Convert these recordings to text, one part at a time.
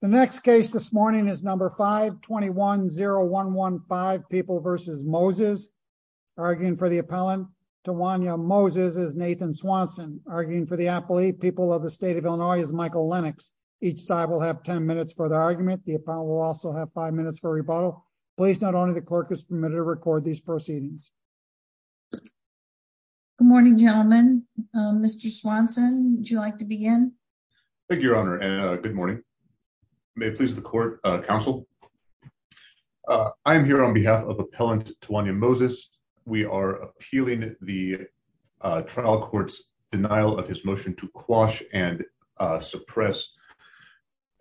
The next case this morning is number 52010115 people versus Moses arguing for the appellant to Wanya Moses is Nathan Swanson arguing for the appellate people of the state of Illinois is Michael Lennox. Each side will have 10 minutes for the argument. The appellant will also have five minutes for rebuttal. Please not only the clerk is permitted to record these proceedings. Good morning, gentlemen. Mr. Swanson, would you like to begin? Thank you, good morning. May please the court counsel. I'm here on behalf of appellant to Wanya Moses. We are appealing the trial court's denial of his motion to quash and suppress.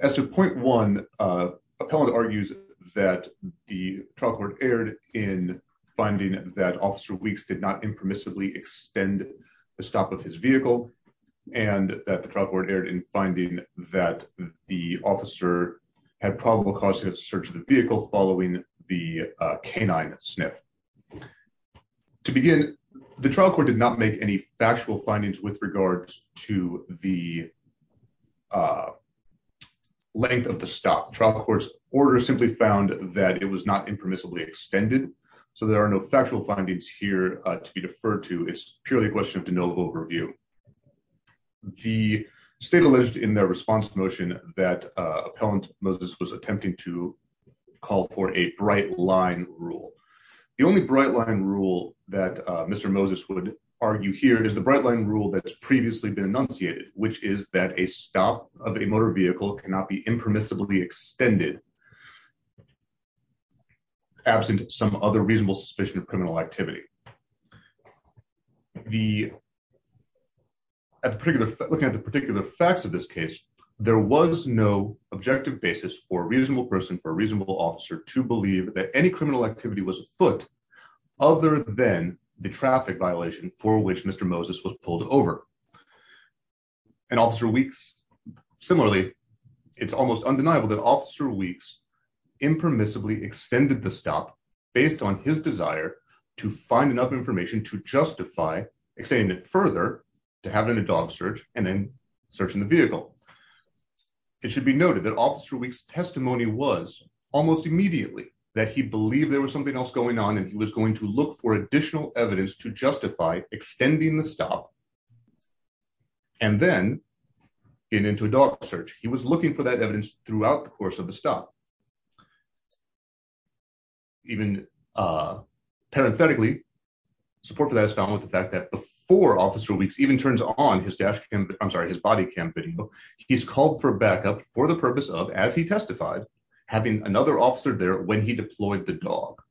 As to point one, appellant argues that the trial court erred in finding that officer weeks did not impermissibly extend the stop of his vehicle and that the trial court erred in finding that the officer had probable cause to search the vehicle following the canine sniff. To begin, the trial court did not make any factual findings with regards to the length of the stop. The trial court's order simply found that it was not impermissibly extended. So there are no factual findings here to be deferred to. It's purely a question of denial of overview. The state alleged in their response motion that appellant Moses was attempting to call for a bright line rule. The only bright line rule that Mr. Moses would argue here is the bright line rule that's previously been enunciated, which is that a stop of a motor vehicle cannot be reasonable suspicion of criminal activity. Looking at the particular facts of this case, there was no objective basis for a reasonable person, for a reasonable officer to believe that any criminal activity was afoot other than the traffic violation for which Mr. Moses was pulled over. And Officer Weeks, similarly, it's almost undeniable that Officer Weeks impermissibly extended the stop based on his desire to find enough information to justify extending it further to have it in a dog search and then searching the vehicle. It should be noted that Officer Weeks' testimony was almost immediately that he believed there was something else going on and he was going to look for additional evidence to justify extending the stop and then getting into a dog search. He was looking for that evidence throughout the course of the stop. Even parenthetically, support for that is found with the fact that before Officer Weeks even turns on his dash cam, I'm sorry, his body cam video, he's called for backup for the purpose of, as he testified, having another officer there when he deployed the dog.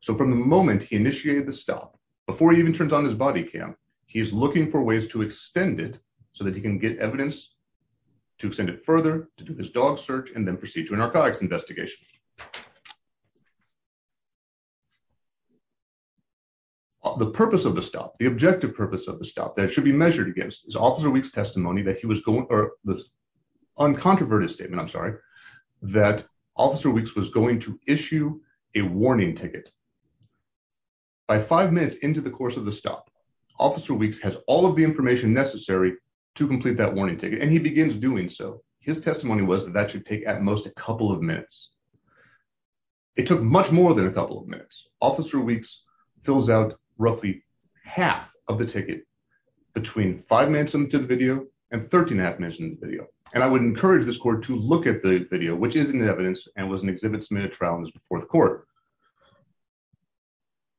So from the moment he initiated the stop, before he even turns on his body cam, he's looking for ways to extend it so that he can get evidence to extend it further, to do this dog search, and then proceed to an archivist investigation. The purpose of the stop, the objective purpose of the stop that it should be measured against is Officer Weeks' testimony that he was going, or the uncontroverted statement, I'm sorry, that Officer Weeks was going to issue a warning ticket. By five minutes into the course of the stop, Officer Weeks has all of the information necessary to complete that warning ticket and he begins doing so. His testimony was that that should take at most a couple of minutes. It took much more than a couple of minutes. Officer Weeks fills out roughly half of the ticket between five minutes into the video and 13 and a half minutes into the video. And I would encourage this court to look at the video, which is an evidence and was an exhibit submitted to trial and was before the court.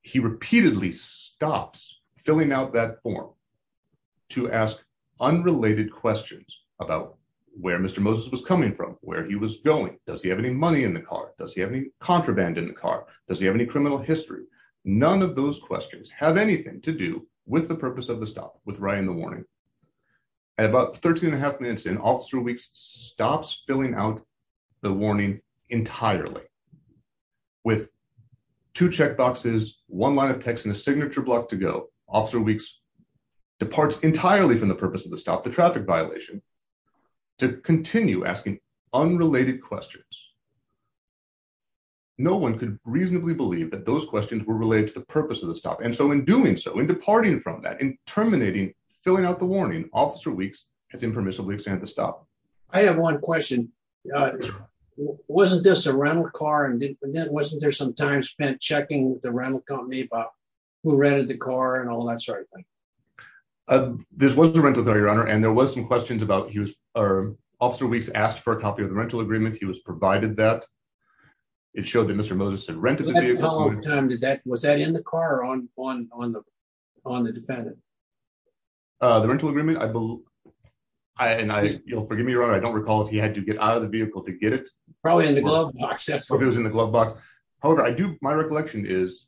He repeatedly stops filling out that form to ask unrelated questions about where Mr. Moses was coming from, where he was going, does he have any money in the car, does he have any contraband in the car, does he have any criminal history. None of those questions have anything to do with the purpose of the stop, with writing the warning. At about 13 and a half minutes in, Officer Weeks stops filling out the warning entirely with two check boxes, one line of text, and a signature block to go. Officer Weeks departs entirely from the purpose of the stop, the traffic violation, to continue asking unrelated questions. No one could reasonably believe that those questions were related to the purpose of the stop. And so in doing so, in departing from that, in terminating, filling out the warning, Officer Weeks has impermissibly extended the stop. I have one question. Wasn't this a rental car and then wasn't there some time spent checking with the rental company about who rented the car and all that sort of thing? This was a rental car, Your Honor, and there was some questions about, Officer Weeks asked for a copy of the rental agreement, he was provided that. It showed that Mr. Moses had rented the vehicle. Was that in the car or on the defendant? The rental agreement, I believe, and you'll forgive me, Your Honor, I don't recall if he had to get out of the vehicle to get it. Probably in the glove box, yes. It was in the glove box. However, I do, my recollection is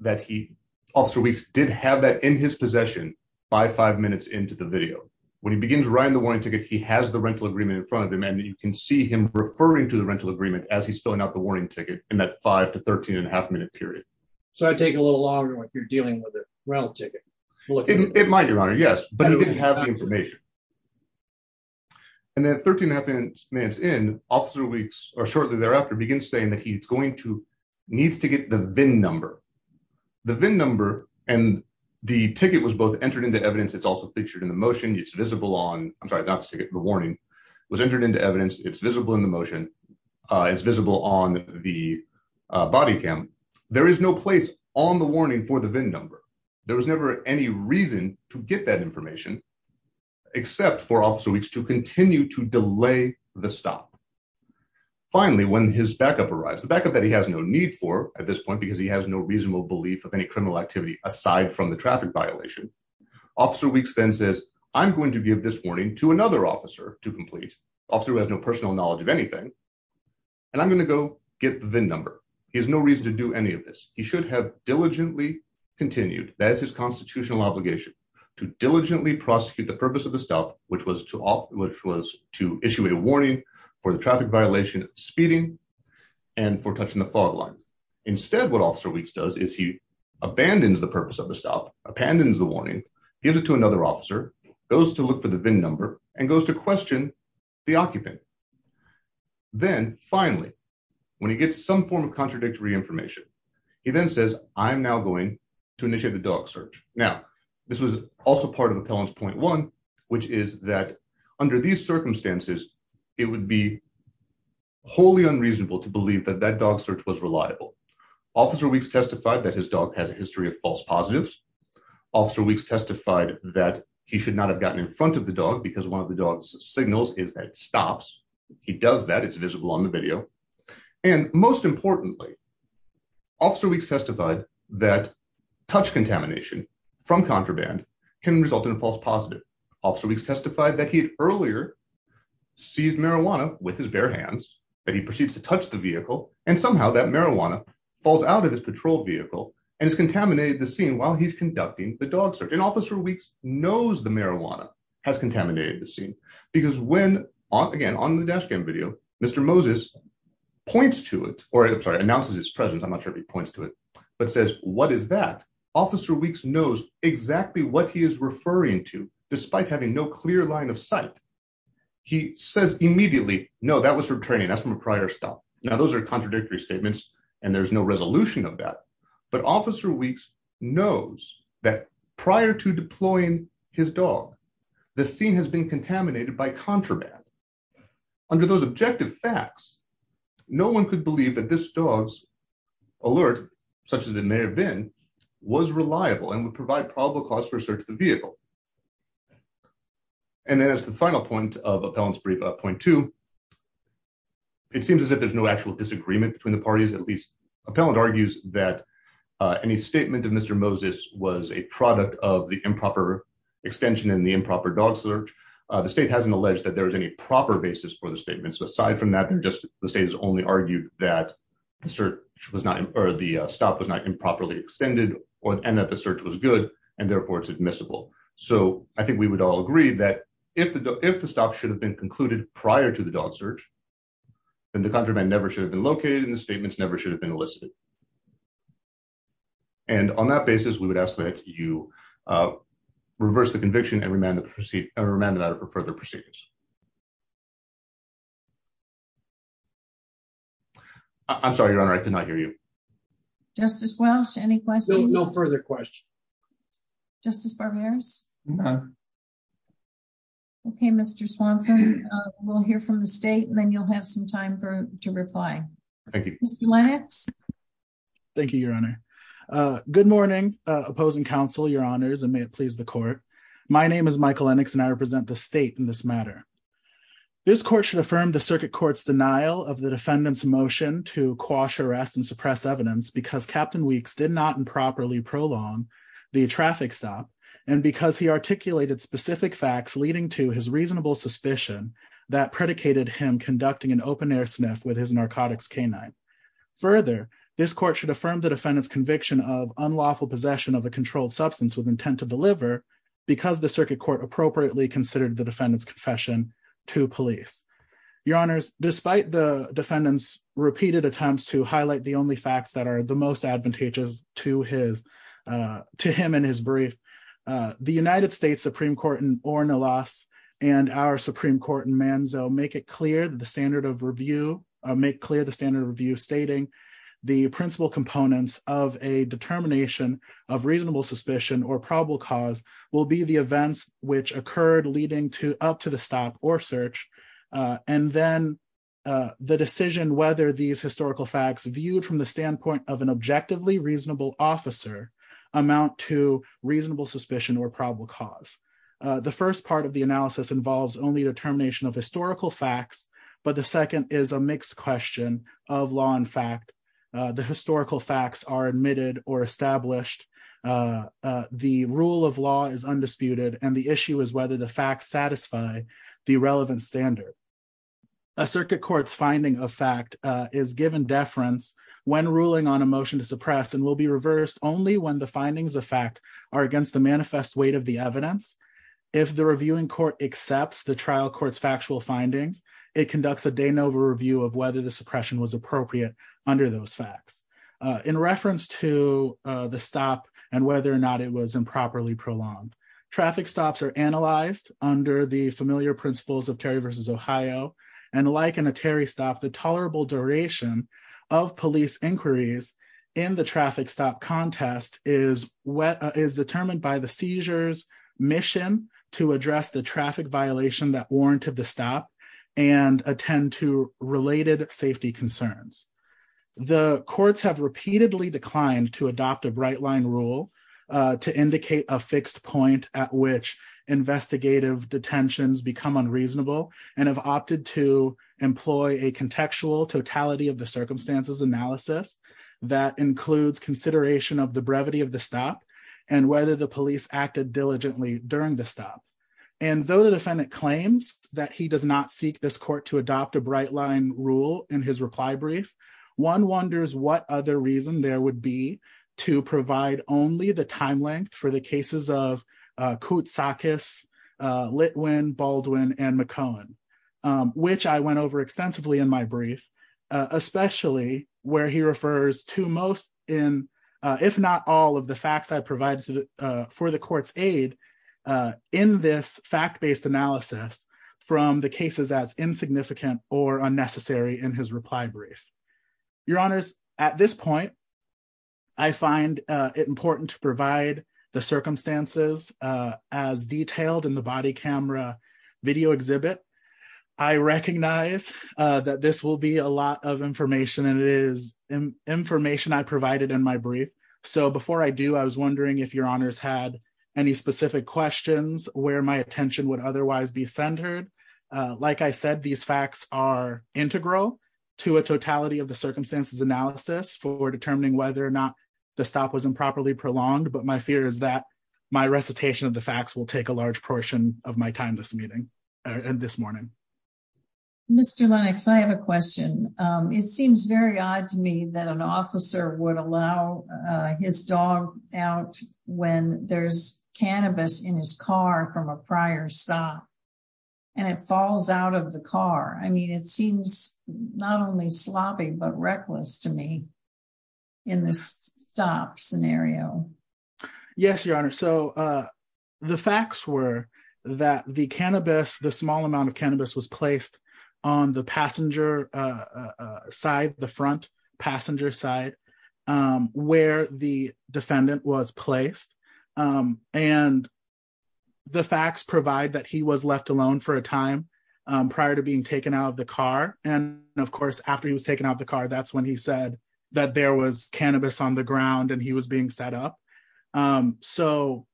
that he, Officer Weeks, did have that in his possession by five minutes into the video. When he begins writing the warning ticket, he has the rental agreement in front of him and you can see him referring to the rental agreement as he's filling out the warning ticket in that five to 13 and a half minute period. So it'd take a little longer if you're dealing with a rental ticket. It might, Your Honor, yes, but he didn't have the information. And then 13 and a half minutes in, Officer Weeks, or shortly thereafter, begins saying that he's needs to get the VIN number. The VIN number and the ticket was both entered into evidence, it's also featured in the motion, it's visible on, I'm sorry, not the ticket, the warning, was entered into evidence, it's visible in the motion, it's visible on the body cam. There is no place on the warning for the VIN number. There was never any reason to get that information except for Officer Weeks to continue to delay the stop. Finally, when his backup arrives, the backup that he has no need for at this point because he has no reasonable belief of any criminal activity aside from the traffic violation, Officer Weeks then says, I'm going to give this warning to another officer to complete, officer who has no personal knowledge of anything, and I'm going to go get the VIN number. He has no reason to do any of this. He should have diligently continued, that is his constitutional obligation, to diligently prosecute the purpose of the stop, which was to issue a warning for the traffic violation, speeding, and for touching the fog line. Instead, what Officer Weeks does is he abandons the purpose of the stop, abandons the warning, gives it to another officer, goes to look for the VIN number, and goes to question the occupant. Then, finally, when he gets some form of contradictory information, he then says, I'm now going to initiate the dog search. Now, this was also part of Appellant's which is that under these circumstances, it would be wholly unreasonable to believe that that dog search was reliable. Officer Weeks testified that his dog has a history of false positives. Officer Weeks testified that he should not have gotten in front of the dog because one of the dog's signals is that it stops. He does that. It's visible on the video, and most importantly, Officer Weeks testified that touch contamination from contraband can result in a false positive. Officer Weeks testified that he had earlier seized marijuana with his bare hands, that he proceeds to touch the vehicle, and somehow that marijuana falls out of his patrol vehicle and has contaminated the scene while he's conducting the dog search. And Officer Weeks knows the marijuana has contaminated the scene because when, again, on the dash cam video, Mr. Moses points to it, or I'm sorry, announces his presence, I'm not sure if he points to it, but says, what is that? Officer Weeks knows exactly what he is referring to despite having no clear line of sight. He says immediately, no, that was from training. That's from a prior stop. Now, those are contradictory statements, and there's no resolution of that, but Officer Weeks knows that prior to deploying his dog, the scene has been contaminated by contraband. Under those objective facts, no one could believe that this dog's alert, such as it may have been, was reliable and would provide probable cause for a search of the vehicle. And then as to the final point of Appellant's brief, point two, it seems as if there's no actual disagreement between the parties. At least, Appellant argues that any statement of Mr. Moses was a product of the improper extension and the improper dog search. The state hasn't alleged that there is any proper basis for the statement. So aside from that, they're just, the state has only argued that the search was not, or the stop was not improperly extended, and that the search was good, and therefore it's admissible. So I think we would all agree that if the stop should have been concluded prior to the dog search, then the contraband never should have been located, and the statements never should have been elicited. And on that basis, we would ask that you reverse the conviction and remand the matter for further proceedings. I'm sorry, Your Honor, I could not hear you. Justice Welch, any questions? No further questions. Justice Barberis? I'm done. Okay, Mr. Swanson, we'll hear from the state, and then you'll have some time to reply. Thank you. Mr. Lennox? Thank you, Your Honor. Good morning, opposing counsel, Your Honors, and may it please the court that Mr. Lennox and I represent the state in this matter. This court should affirm the circuit court's denial of the defendant's motion to quash arrest and suppress evidence because Captain Weeks did not improperly prolong the traffic stop, and because he articulated specific facts leading to his reasonable suspicion that predicated him conducting an open-air sniff with his narcotics canine. Further, this court should affirm the defendant's conviction of unlawful possession of a controlled substance with intent to deliver because the circuit court appropriately considered the defendant's confession to police. Your Honors, despite the defendant's repeated attempts to highlight the only facts that are the most advantageous to him in his brief, the United States Supreme Court in Ornelas and our Supreme Court in Manzo make it clear the standard of review stating the principal components of a determination of reasonable suspicion or probable cause will be the events which occurred leading up to the stop or search, and then the decision whether these historical facts viewed from the standpoint of an objectively reasonable officer amount to reasonable suspicion or probable cause. The first part of the analysis involves only determination of historical facts, but the second is a mixed question of law and fact. The historical facts are admitted or established, the rule of law is undisputed, and the issue is whether the facts satisfy the relevant standard. A circuit court's finding of fact is given deference when ruling on a motion to suppress and will be reversed only when the findings of fact are against the manifest weight of the evidence. If the reviewing court accepts the trial court's factual findings, it conducts a de novo review of whether the suppression was appropriate under those facts. In reference to the stop and whether or not it was improperly prolonged, traffic stops are analyzed under the familiar principles of Terry v. Ohio, and like in a Terry stop, the tolerable duration of police inquiries in the traffic stop is determined by the seizure's mission to address the traffic violation that warranted the stop and attend to related safety concerns. The courts have repeatedly declined to adopt a bright line rule to indicate a fixed point at which investigative detentions become unreasonable, and have opted to employ a contextual totality of the circumstances analysis that includes consideration of the brevity of the stop and whether the police acted diligently during the stop. And though the defendant claims that he does not seek this court to adopt a bright line rule in his reply brief, one wonders what other reason there would be to provide only the time length for the cases of Koutsakis, Litwin, Baldwin, and McCohen, which I went over extensively in my if not all of the facts I provided for the court's aid in this fact-based analysis from the cases as insignificant or unnecessary in his reply brief. Your honors, at this point, I find it important to provide the circumstances as detailed in the body camera video exhibit. I recognize that this will be a lot of information, and it is information I provided in my brief, so before I do, I was wondering if your honors had any specific questions where my attention would otherwise be centered. Like I said, these facts are integral to a totality of the circumstances analysis for determining whether or not the stop was improperly prolonged, but my fear is that my recitation of the facts will take a large portion of my time this morning. Mr. Lennox, I have a question. It seems very odd to me that an officer would allow his dog out when there's cannabis in his car from a prior stop, and it falls out of the car. I mean, it seems not only sloppy, but reckless to me in this stop scenario. Yes, your honor. So the facts were that the cannabis, the small amount of cannabis, was placed on the passenger side, the front passenger side where the defendant was placed, and the facts provide that he was left alone for a time prior to being taken out of the car, and of course, after he was taken out of the car, that's when he said that there was cannabis on the side. So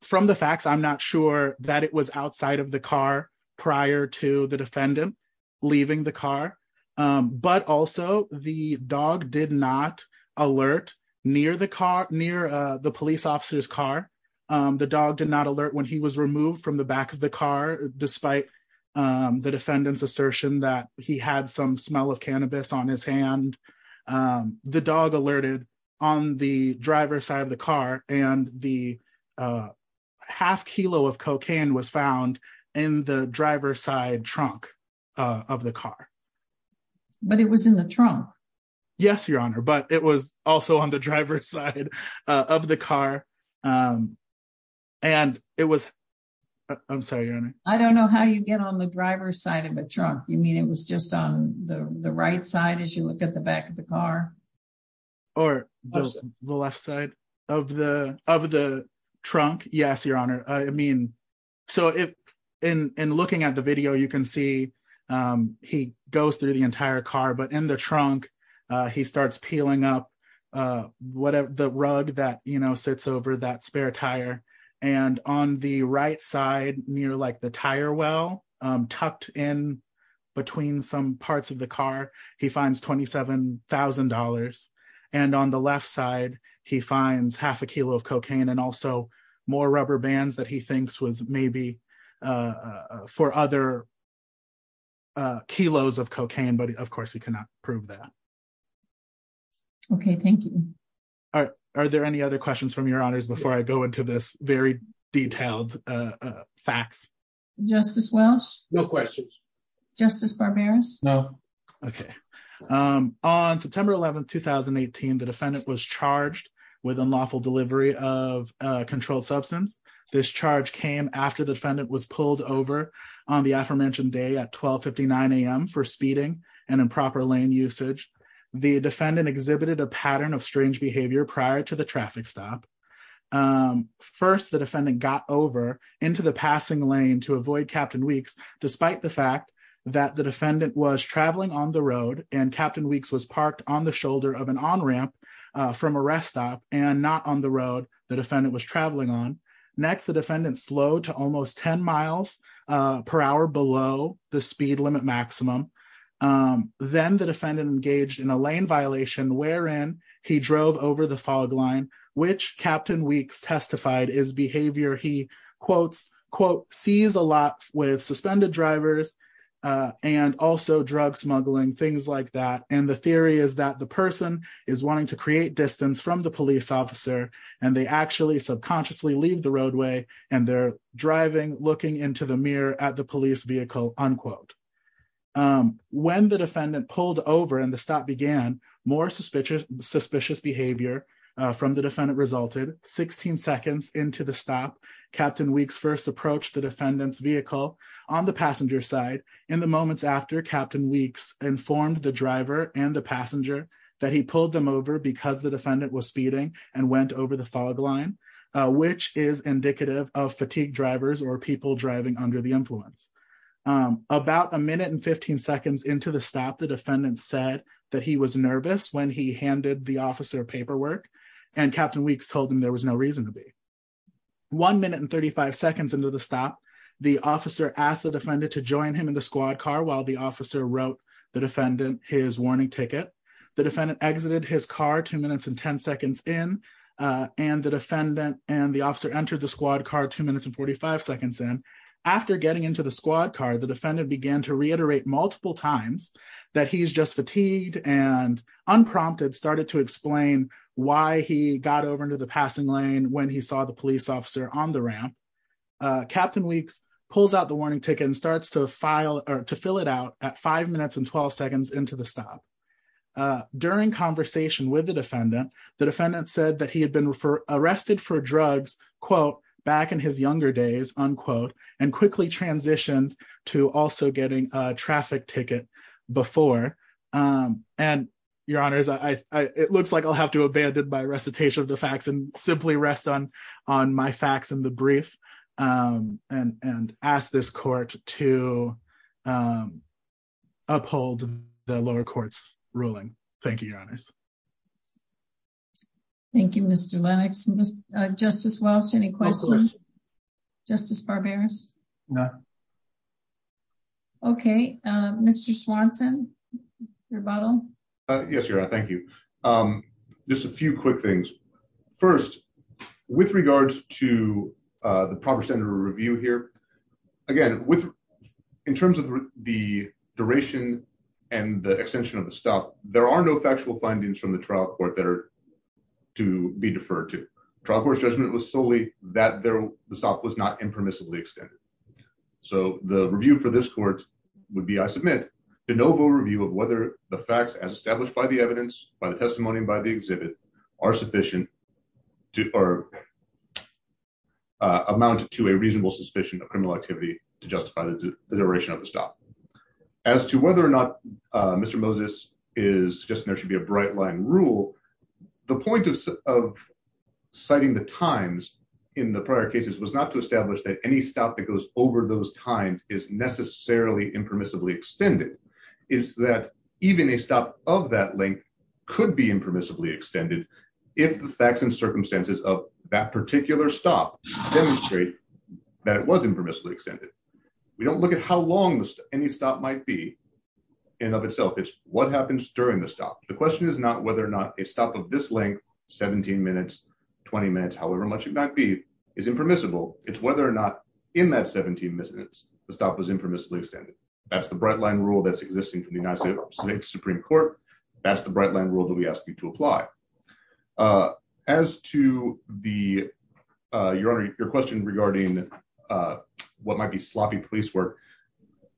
from the facts, I'm not sure that it was outside of the car prior to the defendant leaving the car, but also the dog did not alert near the police officer's car. The dog did not alert when he was removed from the back of the car, despite the defendant's assertion that he had some smell of cannabis on his hand. The dog alerted on the driver's side of the car, and the half kilo of cocaine was found in the driver's side trunk of the car. But it was in the trunk. Yes, your honor, but it was also on the driver's side of the car, and it was... I'm sorry, your honor. I don't know how you get on the driver's trunk. You mean it was just on the right side as you look at the back of the car? Or the left side of the trunk? Yes, your honor. So in looking at the video, you can see he goes through the entire car, but in the trunk, he starts peeling up the rug that sits over that between some parts of the car. He finds $27,000, and on the left side, he finds half a kilo of cocaine and also more rubber bands that he thinks was maybe for other kilos of cocaine, but of course we cannot prove that. Okay, thank you. Are there any other questions from your Justice Barberas? No. Okay. On September 11, 2018, the defendant was charged with unlawful delivery of a controlled substance. This charge came after the defendant was pulled over on the aforementioned day at 1259 a.m. for speeding and improper lane usage. The defendant exhibited a pattern of strange behavior prior to the traffic stop. First, the defendant got over into the that the defendant was traveling on the road and Captain Weeks was parked on the shoulder of an on-ramp from a rest stop and not on the road the defendant was traveling on. Next, the defendant slowed to almost 10 miles per hour below the speed limit maximum. Then the defendant engaged in a lane violation wherein he drove over the fog line, which Captain Weeks testified is behavior he quote, sees a lot with suspended drivers and also drug smuggling, things like that, and the theory is that the person is wanting to create distance from the police officer and they actually subconsciously leave the roadway and they're driving, looking into the mirror at the police vehicle, unquote. When the defendant pulled over and the stop began, more suspicious behavior from the defendant resulted. 16 seconds into the stop, Captain Weeks first approached the defendant's vehicle on the passenger side. In the moments after, Captain Weeks informed the driver and the passenger that he pulled them over because the defendant was speeding and went over the fog line, which is indicative of fatigued drivers or people driving under the influence. About a minute and 15 seconds into the stop, the defendant said that he was nervous when he handed the officer paperwork and Captain Weeks told him there was no reason to be. One minute and 35 seconds into the stop, the officer asked the defendant to join him in the squad car while the officer wrote the defendant his warning ticket. The defendant exited his car two minutes and 10 seconds in and the defendant and the officer entered the squad car two minutes and 45 seconds in. After getting into the squad car, the defendant began to and unprompted started to explain why he got over into the passing lane when he saw the police officer on the ramp. Captain Weeks pulls out the warning ticket and starts to file or to fill it out at five minutes and 12 seconds into the stop. During conversation with the defendant, the defendant said that he had been arrested for drugs, quote, back in his younger days, unquote, and quickly transitioned to also getting a traffic ticket before. And, Your Honors, it looks like I'll have to abandon my recitation of the facts and simply rest on my facts in the brief and ask this court to uphold the lower court's ruling. Thank you, Your Honors. Thank you, Mr. Lennox. Justice Welch, any questions? Justice Barberas? No. Okay. Mr. Swanson, your bottle? Yes, Your Honor. Thank you. Just a few quick things. First, with regards to the proper standard of review here, again, in terms of the duration and the findings from the trial court that are to be deferred to, trial court's judgment was solely that the stop was not impermissibly extended. So the review for this court would be, I submit, de novo review of whether the facts as established by the evidence, by the testimony, by the exhibit are sufficient to or amount to a reasonable suspicion of criminal activity to justify the duration of the stop. As to whether or not Mr. Moses is suggesting there should be a bright line rule, the point of citing the times in the prior cases was not to establish that any stop that goes over those times is necessarily impermissibly extended. It's that even a stop of that length could be impermissibly extended if the facts and circumstances of that particular stop demonstrate that it was impermissibly extended. We don't look at how long any stop might be in of itself. It's what happens during the stop. The question is not whether or not a stop of this length, 17 minutes, 20 minutes, however much it might be, is impermissible. It's whether or not in that 17 minutes, the stop was impermissibly extended. That's the bright line rule that's existing from the United States Supreme Court. That's the bright line rule that we ask you to look at.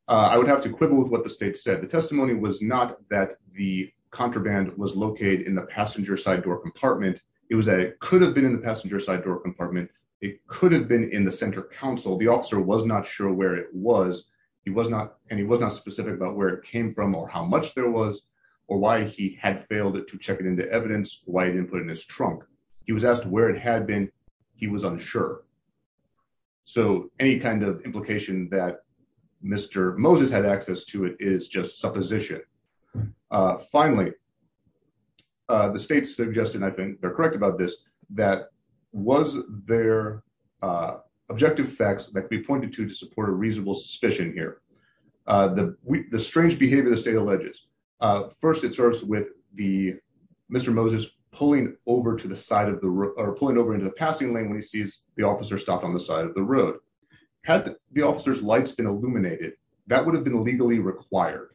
I would have to quibble with what the state said. The testimony was not that the contraband was located in the passenger side door compartment. It was that it could have been in the passenger side door compartment. It could have been in the center console. The officer was not sure where it was. He was not specific about where it came from or how much there was or why he had failed to check it into evidence, why he didn't put it in his trunk. He was asked where it had been. He was unsure. Any kind of implication that Mr. Moses had access to it is just supposition. Finally, the state suggested, and I think they're correct about this, that was there objective facts that could be pointed to to support a reasonable suspicion here? The strange behavior the state alleges. First, it starts with Mr. Moses pulling over into the passing lane when he sees the officer stopped on the side of the road. Had the officer's lights been illuminated, that would have been legally required.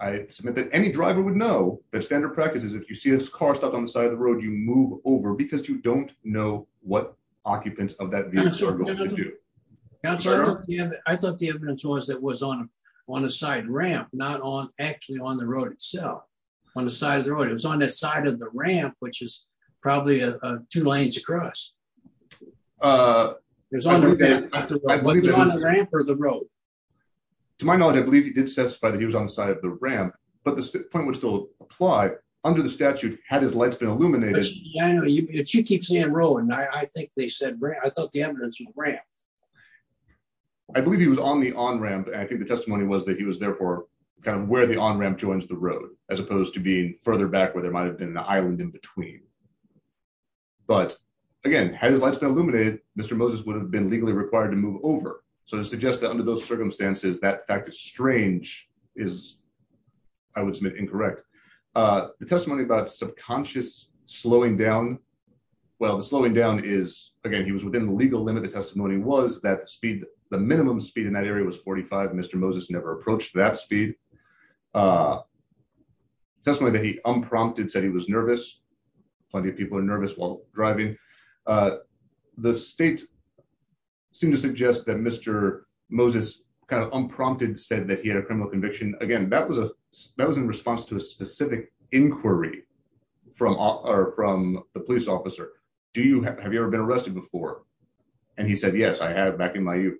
I submit that any driver would know that standard practice is if you see this car stopped on the side of the road, you move over because you don't know what occupants of that vehicle are going to do. I thought the evidence was that it was on a side ramp, not actually on the road itself. On the side of the road. It was on the side of the ramp, which is probably two lanes across. To my knowledge, I believe he did specify that he was on the side of the ramp, but the point would still apply. Under the statute, had his lights been illuminated? But you keep saying road, and I think they said ramp. I thought the evidence was ramp. I believe he was on the on-ramp, and I think the testimony was that he was there for where the on-ramp joins the road, as opposed to being further back where there might have been an island in between. But again, had his lights been illuminated, Mr. Moses would have been legally required to move over. So to suggest that under those circumstances, that fact is strange is, I would submit, incorrect. The testimony about subconscious slowing down. Well, the slowing down is, again, he was within the legal limit. The testimony was that the speed, in that area, was 45. Mr. Moses never approached that speed. The testimony that he unprompted said he was nervous. Plenty of people are nervous while driving. The state seemed to suggest that Mr. Moses kind of unprompted said that he had a criminal conviction. Again, that was in response to a specific inquiry from the police officer. Have you ever been arrested before? And he said, yes, I have back in my youth.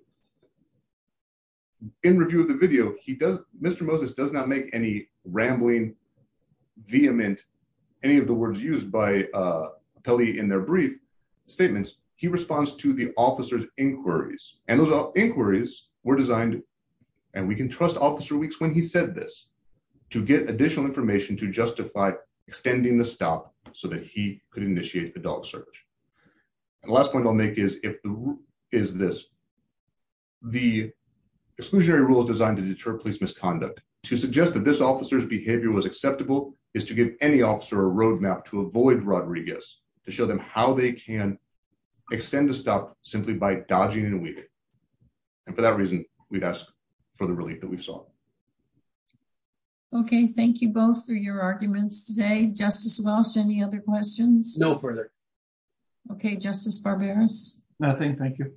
In review of the video, Mr. Moses does not make any rambling, vehement, any of the words used by Pelley in their brief statements. He responds to the officer's inquiries. And those inquiries were designed, and we can trust Officer Weeks when he said this, to get additional information to justify extending the stop so that he could initiate the dog search. And the last point I'll make is this. The exclusionary rule is designed to deter police misconduct. To suggest that this officer's behavior was acceptable is to give any officer a roadmap to avoid Rodriguez, to show them how they can extend the stop simply by dodging and weaving. And for that reason, we'd ask for the relief that we saw. Okay, thank you both for your arguments today. Justice Walsh, any other questions? No further. Okay, Justice Barberos? Nothing, thank you.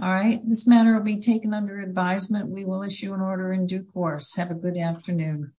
All right, this matter will be taken under advisement. We will issue an order in due course. Have a good afternoon.